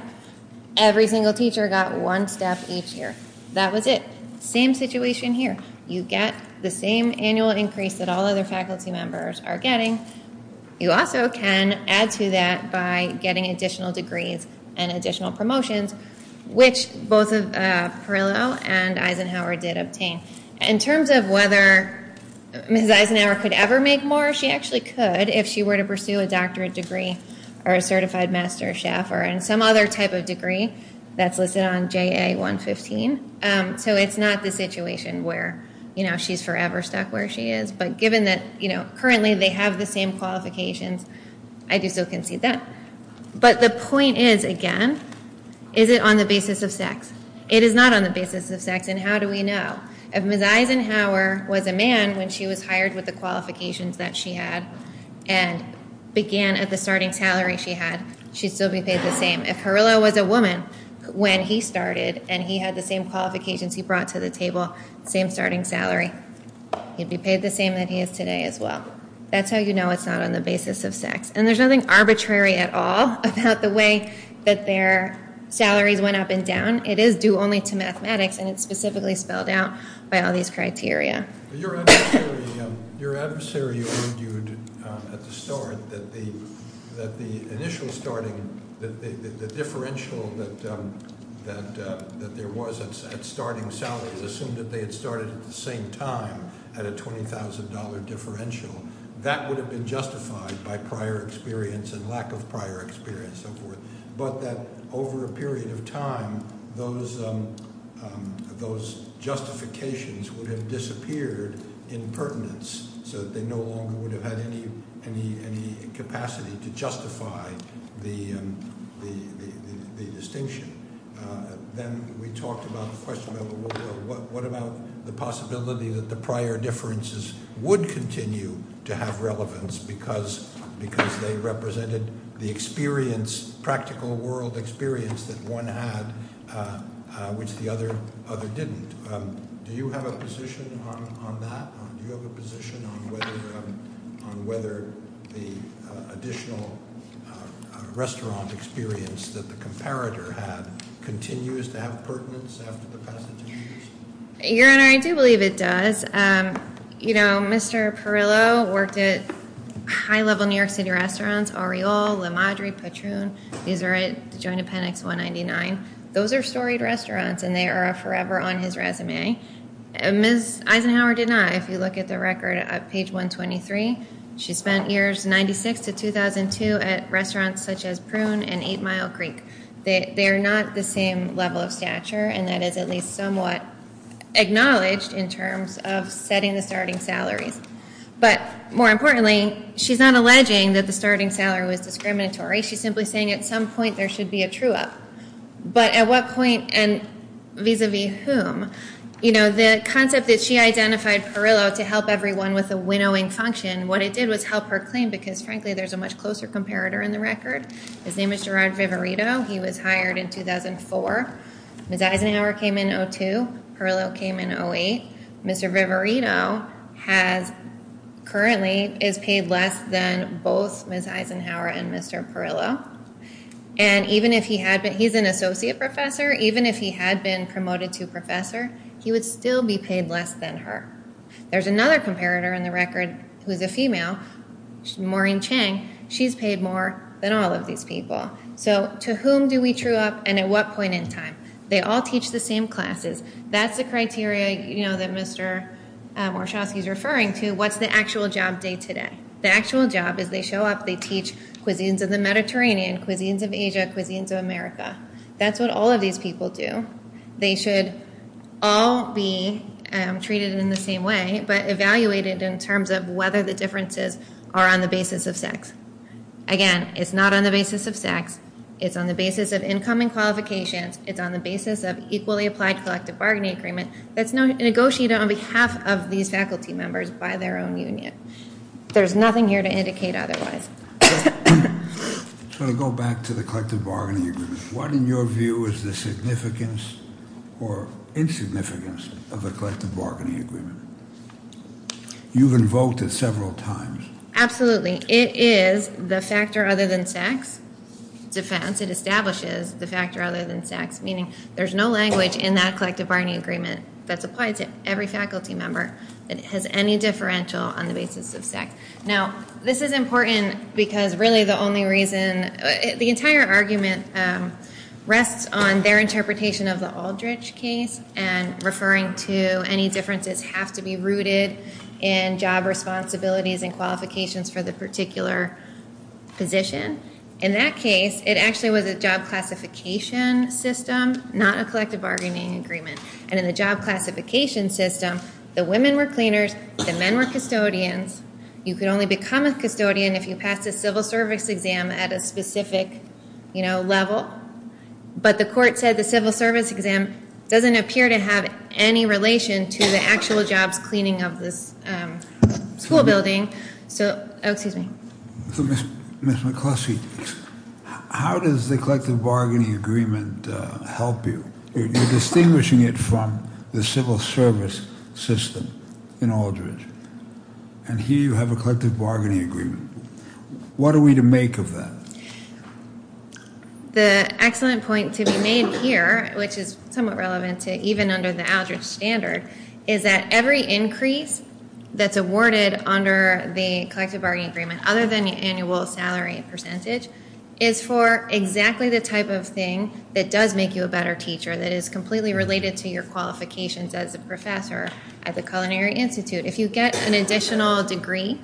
every single teacher got one step each year. That was it. Same situation here. You get the same annual increase that all other faculty members are getting. You also can add to that by getting additional degrees and additional promotions, which both Parillo and Eisenhower did obtain. In terms of whether Mrs. Eisenhower could ever make more, she actually could if she were to pursue a doctorate degree or a certified master chef or some other type of degree that's listed on JA 115. So it's not the situation where, you know, she's forever stuck where she is. But given that, you know, currently they have the same qualifications, I do so concede that. But the point is, again, is it on the basis of sex? It is not on the basis of sex, and how do we know? If Mrs. Eisenhower was a man when she was hired with the qualifications that she had and began at the starting salary she had, she'd still be paid the same. If Parillo was a woman when he started and he had the same qualifications he brought to the table, same starting salary, he'd be paid the same that he is today as well. That's how you know it's not on the basis of sex. And there's nothing arbitrary at all about the way that their salaries went up and down. It is due only to mathematics, and it's specifically spelled out by all these criteria. Your adversary argued at the start that the initial starting, the differential that there was at starting salaries assumed that they had started at the same time at a $20,000 differential. That would have been justified by prior experience and lack of prior experience and so forth, but that over a period of time those justifications would have disappeared in pertinence so that they no longer would have had any capacity to justify the distinction. Then we talked about the question of what about the possibility that the prior differences would continue to have relevance because they represented the experience, practical world experience that one had, which the other didn't. Do you have a position on that? Do you have a position on whether the additional restaurant experience that the comparator had continues to have pertinence after the passage of rules? Your Honor, I do believe it does. Mr. Perillo worked at high-level New York City restaurants, Aureole, La Madre, Patroon. These are at the joint appendix 199. Those are storied restaurants, and they are forever on his resume. Ms. Eisenhower did not. If you look at the record at page 123, she spent years 96 to 2002 at restaurants such as Prune and 8 Mile Creek. They are not the same level of stature, and that is at least somewhat acknowledged in terms of setting the starting salaries. But more importantly, she's not alleging that the starting salary was discriminatory. She's simply saying at some point there should be a true-up. But at what point and vis-a-vis whom? The concept that she identified Perillo to help everyone with a winnowing function, what it did was help her claim because, frankly, there's a much closer comparator in the record. His name is Gerard Viverito. He was hired in 2004. Ms. Eisenhower came in in 2002. Perillo came in in 2008. Mr. Viverito currently is paid less than both Ms. Eisenhower and Mr. Perillo. And even if he had been an associate professor, even if he had been promoted to professor, he would still be paid less than her. There's another comparator in the record who is a female, Maureen Chang. She's paid more than all of these people. So to whom do we true-up and at what point in time? They all teach the same classes. That's the criteria that Mr. Warshawski is referring to. What's the actual job day-to-day? The actual job is they show up, they teach cuisines of the Mediterranean, cuisines of Asia, cuisines of America. That's what all of these people do. They should all be treated in the same way but evaluated in terms of whether the differences are on the basis of sex. Again, it's not on the basis of sex. It's on the basis of income and qualifications. It's on the basis of equally applied collective bargaining agreement that's negotiated on behalf of these faculty members by their own union. There's nothing here to indicate otherwise. So to go back to the collective bargaining agreement, what in your view is the significance or insignificance of a collective bargaining agreement? You've invoked it several times. Absolutely. It is the factor other than sex. It establishes the factor other than sex, meaning there's no language in that collective bargaining agreement that's applied to every faculty member that has any differential on the basis of sex. Now, this is important because really the only reason – the entire argument rests on their interpretation of the Aldrich case and referring to any differences have to be rooted in job responsibilities and qualifications for the particular position. In that case, it actually was a job classification system, not a collective bargaining agreement. And in the job classification system, the women were cleaners, the men were custodians. You could only become a custodian if you passed a civil service exam at a specific level. But the court said the civil service exam doesn't appear to have any relation to the actual jobs cleaning of this school building. So – oh, excuse me. Ms. McCluskey, how does the collective bargaining agreement help you? You're distinguishing it from the civil service system in Aldrich. And here you have a collective bargaining agreement. What are we to make of that? The excellent point to be made here, which is somewhat relevant to even under the Aldrich standard, is that every increase that's awarded under the collective bargaining agreement, other than the annual salary percentage, is for exactly the type of thing that does make you a better teacher, that is completely related to your qualifications as a professor at the Culinary Institute. If you get an additional degree,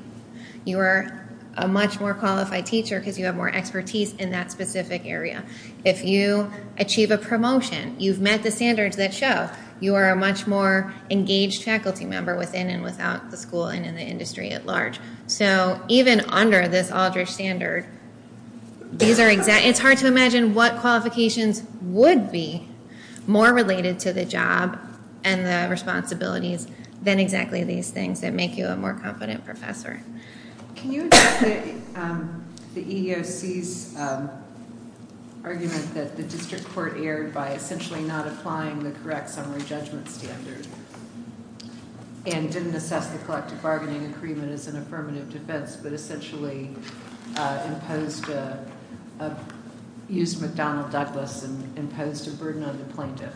you are a much more qualified teacher because you have more expertise in that specific area. If you achieve a promotion, you've met the standards that show you are a much more engaged faculty member within and without the school and in the industry at large. So even under this Aldrich standard, it's hard to imagine what qualifications would be more related to the job and the responsibilities than exactly these things that make you a more competent professor. Can you address the EEOC's argument that the district court erred by essentially not applying the correct summary judgment standard and didn't assess the collective bargaining agreement as an affirmative defense, but essentially used McDonnell Douglas and imposed a burden on the plaintiff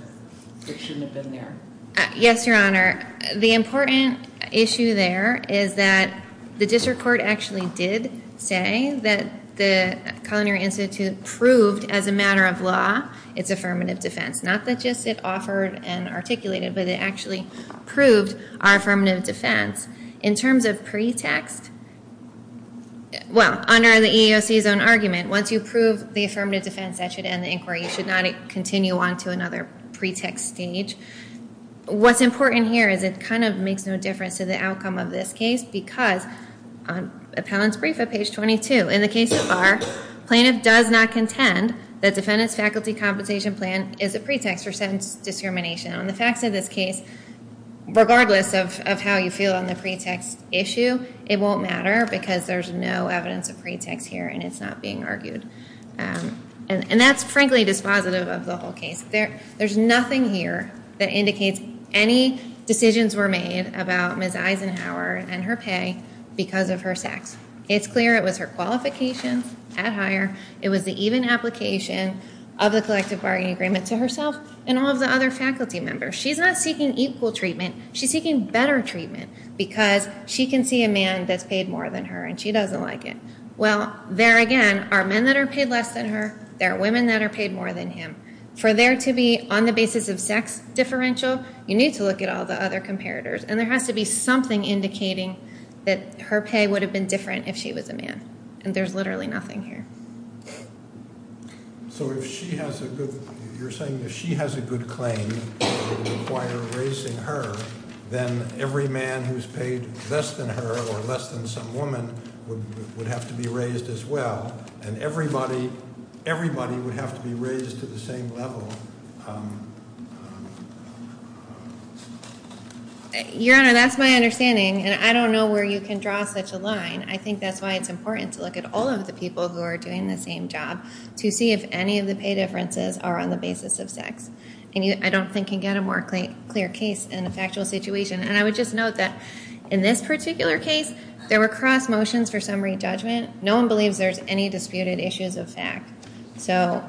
that shouldn't have been there? Yes, Your Honor. The important issue there is that the district court actually did say that the Culinary Institute proved, as a matter of law, its affirmative defense. Not that just it offered and articulated, but it actually proved our affirmative defense. In terms of pretext, well, under the EEOC's own argument, once you prove the affirmative defense, that should end the inquiry. You should not continue on to another pretext stage. What's important here is it kind of makes no difference to the outcome of this case because, on appellant's brief at page 22, in the case of R, plaintiff does not contend that defendant's faculty compensation plan is a pretext for sentence discrimination. On the facts of this case, regardless of how you feel on the pretext issue, it won't matter because there's no evidence of pretext here and it's not being argued. And that's frankly dispositive of the whole case. There's nothing here that indicates any decisions were made about Ms. Eisenhower and her pay because of her sex. It's clear it was her qualification at hire. It was the even application of the collective bargaining agreement to herself and all of the other faculty members. She's not seeking equal treatment. She's seeking better treatment because she can see a man that's paid more than her and she doesn't like it. Well, there again are men that are paid less than her. There are women that are paid more than him. For there to be, on the basis of sex differential, you need to look at all the other comparators. And there has to be something indicating that her pay would have been different if she was a man. And there's literally nothing here. So if she has a good – you're saying if she has a good claim, it would require raising her. Then every man who's paid less than her or less than some woman would have to be raised as well. And everybody – everybody would have to be raised to the same level. Your Honor, that's my understanding, and I don't know where you can draw such a line. I think that's why it's important to look at all of the people who are doing the same job to see if any of the pay differences are on the basis of sex. And I don't think you can get a more clear case in a factual situation. And I would just note that in this particular case, there were cross motions for summary judgment. No one believes there's any disputed issues of fact. So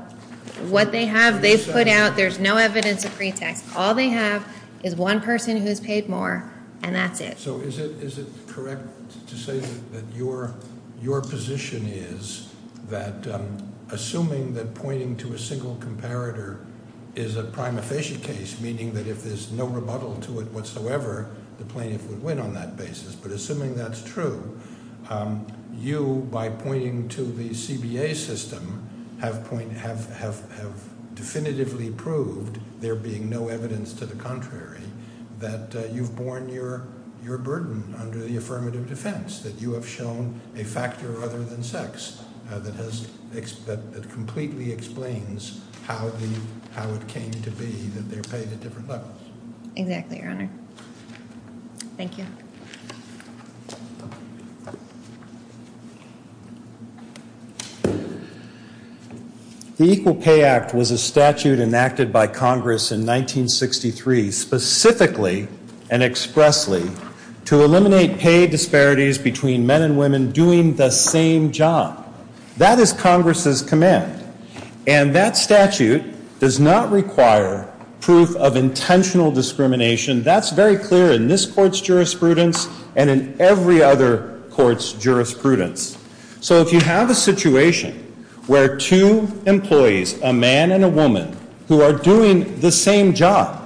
what they have, they've put out. There's no evidence of pretext. All they have is one person who's paid more, and that's it. So is it correct to say that your position is that assuming that pointing to a single comparator is a prima facie case, meaning that if there's no rebuttal to it whatsoever, the plaintiff would win on that basis, but assuming that's true, you, by pointing to the CBA system, have definitively proved, there being no evidence to the contrary, that you've borne your burden under the affirmative defense, that you have shown a factor other than sex that completely explains how it came to be that they're paid at different levels. Exactly, Your Honor. Thank you. The Equal Pay Act was a statute enacted by Congress in 1963, specifically and expressly, to eliminate pay disparities between men and women doing the same job. That is Congress's command. And that statute does not require proof of intentional discrimination. That's very clear in this court's jurisprudence and in every other court's jurisprudence. So if you have a situation where two employees, a man and a woman, who are doing the same job,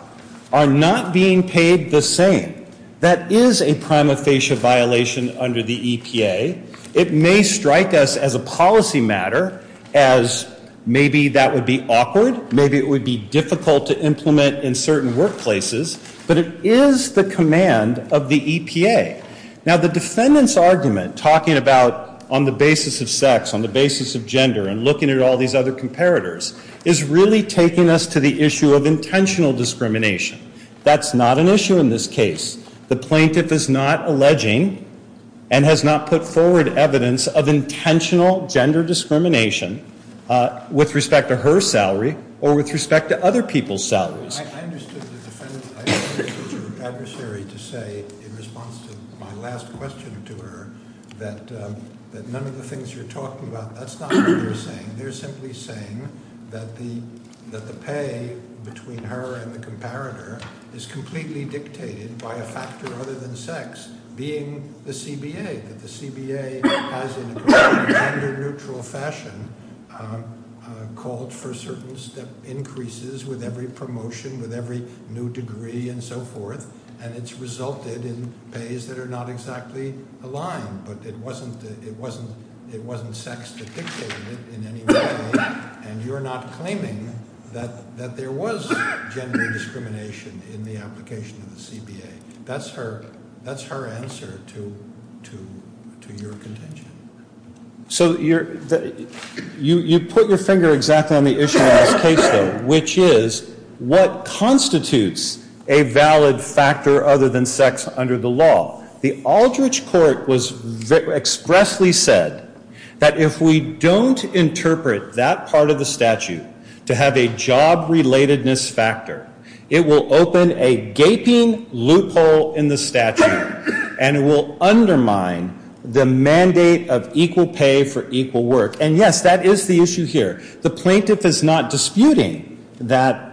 are not being paid the same, that is a prima facie violation under the EPA. It may strike us as a policy matter, as maybe that would be awkward, maybe it would be difficult to implement in certain workplaces, but it is the command of the EPA. Now the defendant's argument, talking about on the basis of sex, on the basis of gender, and looking at all these other comparators, is really taking us to the issue of intentional discrimination. That's not an issue in this case. The plaintiff is not alleging and has not put forward evidence of intentional gender discrimination with respect to her salary or with respect to other people's salaries. I understood the defendant's adversary to say, in response to my last question to her, that none of the things you're talking about, that's not what they're saying. They're simply saying that the pay between her and the comparator is completely dictated by a factor other than sex, being the CBA, that the CBA has, in a completely gender neutral fashion, called for certain step increases with every promotion, with every new degree and so forth, and it's resulted in pays that are not exactly aligned, but it wasn't sex that dictated it in any way, and you're not claiming that there was gender discrimination in the application of the CBA. That's her answer to your contention. So you put your finger exactly on the issue in this case, though, which is what constitutes a valid factor other than sex under the law. The Aldrich Court expressly said that if we don't interpret that part of the statute to have a job-relatedness factor, it will open a gaping loophole in the statute and it will undermine the mandate of equal pay for equal work. And, yes, that is the issue here. The plaintiff is not disputing that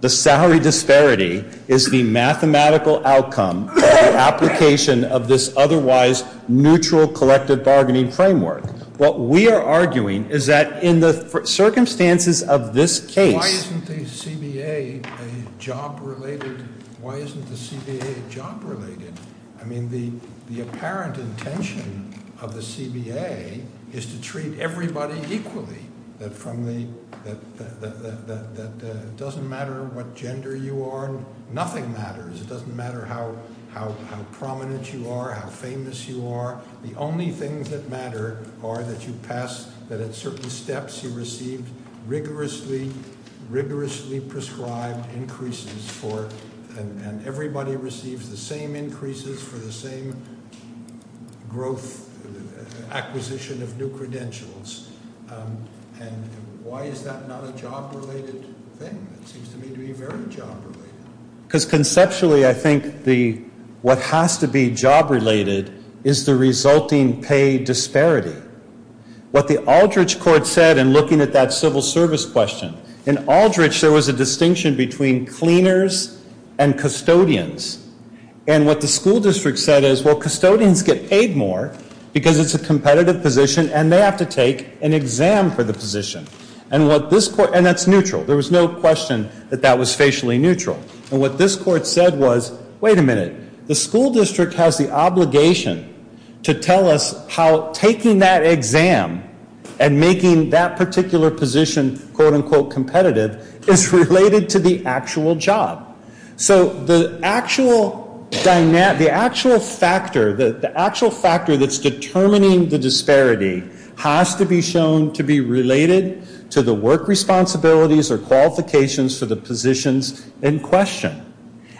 the salary disparity is the mathematical outcome of the application of this otherwise neutral collective bargaining framework. What we are arguing is that in the circumstances of this case- Why isn't the CBA job-related? Why isn't the CBA job-related? I mean, the apparent intention of the CBA is to treat everybody equally, that it doesn't matter what gender you are, nothing matters. It doesn't matter how prominent you are, how famous you are. The only things that matter are that at certain steps you receive rigorously prescribed increases and everybody receives the same increases for the same growth acquisition of new credentials. And why is that not a job-related thing? It seems to me to be very job-related. Because conceptually I think what has to be job-related is the resulting pay disparity. What the Aldrich Court said in looking at that civil service question, in Aldrich there was a distinction between cleaners and custodians. And what the school district said is, well, custodians get paid more because it's a competitive position and they have to take an exam for the position. And that's neutral. There was no question that that was facially neutral. And what this court said was, wait a minute. The school district has the obligation to tell us how taking that exam and making that particular position quote-unquote competitive is related to the actual job. So the actual factor that's determining the disparity has to be shown to be related to the work responsibilities or qualifications for the positions in question.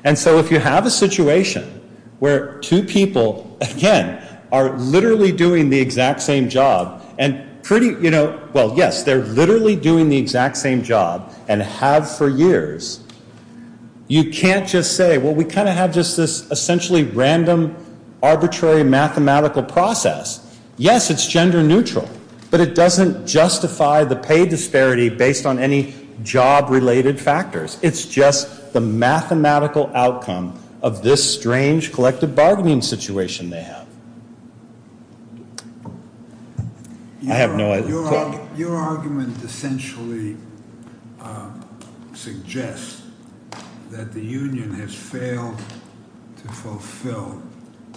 And so if you have a situation where two people, again, are literally doing the exact same job and pretty, you know, well, yes, they're literally doing the exact same job and have for years, you can't just say, well, we kind of have just this essentially random arbitrary mathematical process. Yes, it's gender neutral, but it doesn't justify the pay disparity based on any job-related factors. It's just the mathematical outcome of this strange collective bargaining situation they have. I have no other thought. Your argument essentially suggests that the union has failed to fulfill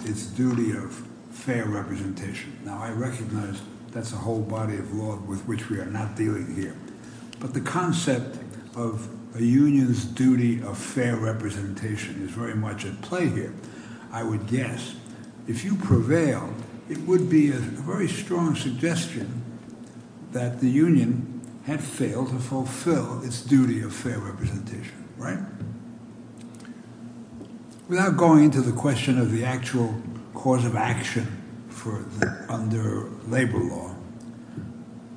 its duty of fair representation. Now, I recognize that's a whole body of law with which we are not dealing here. But the concept of a union's duty of fair representation is very much at play here, I would guess. If you prevail, it would be a very strong suggestion that the union had failed to fulfill its duty of fair representation. Right? Without going into the question of the actual cause of action under labor law,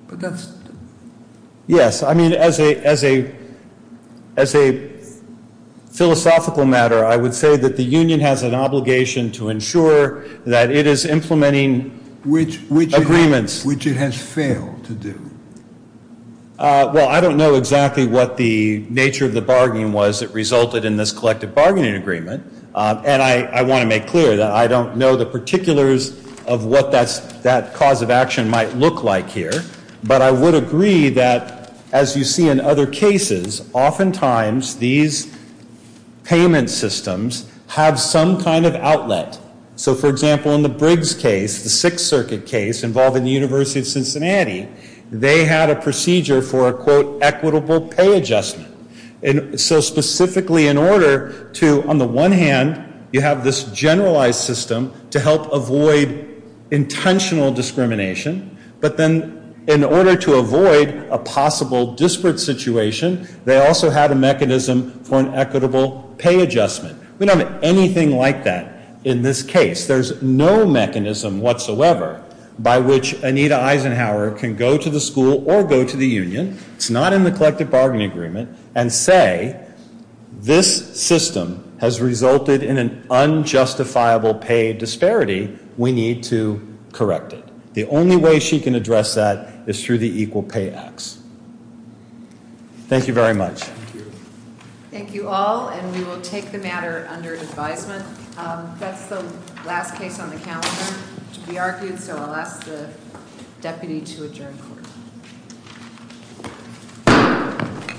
but that's... Yes, I mean, as a philosophical matter, I would say that the union has an obligation to ensure that it is implementing agreements. Which it has failed to do. Well, I don't know exactly what the nature of the bargaining was that resulted in this collective bargaining agreement. And I want to make clear that I don't know the particulars of what that cause of action might look like here. But I would agree that, as you see in other cases, oftentimes these payment systems have some kind of outlet. So, for example, in the Briggs case, the Sixth Circuit case involving the University of Cincinnati, they had a procedure for a, quote, equitable pay adjustment. And so specifically in order to, on the one hand, you have this generalized system to help avoid intentional discrimination. But then in order to avoid a possible disparate situation, they also had a mechanism for an equitable pay adjustment. We don't have anything like that in this case. There's no mechanism whatsoever by which Anita Eisenhower can go to the school or go to the union, it's not in the collective bargaining agreement, and say this system has resulted in an unjustifiable pay disparity. We need to correct it. The only way she can address that is through the Equal Pay Act. Thank you very much. Thank you all, and we will take the matter under advisement. That's the last case on the calendar to be argued, so I'll ask the deputy to adjourn court.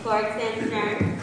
Court is adjourned.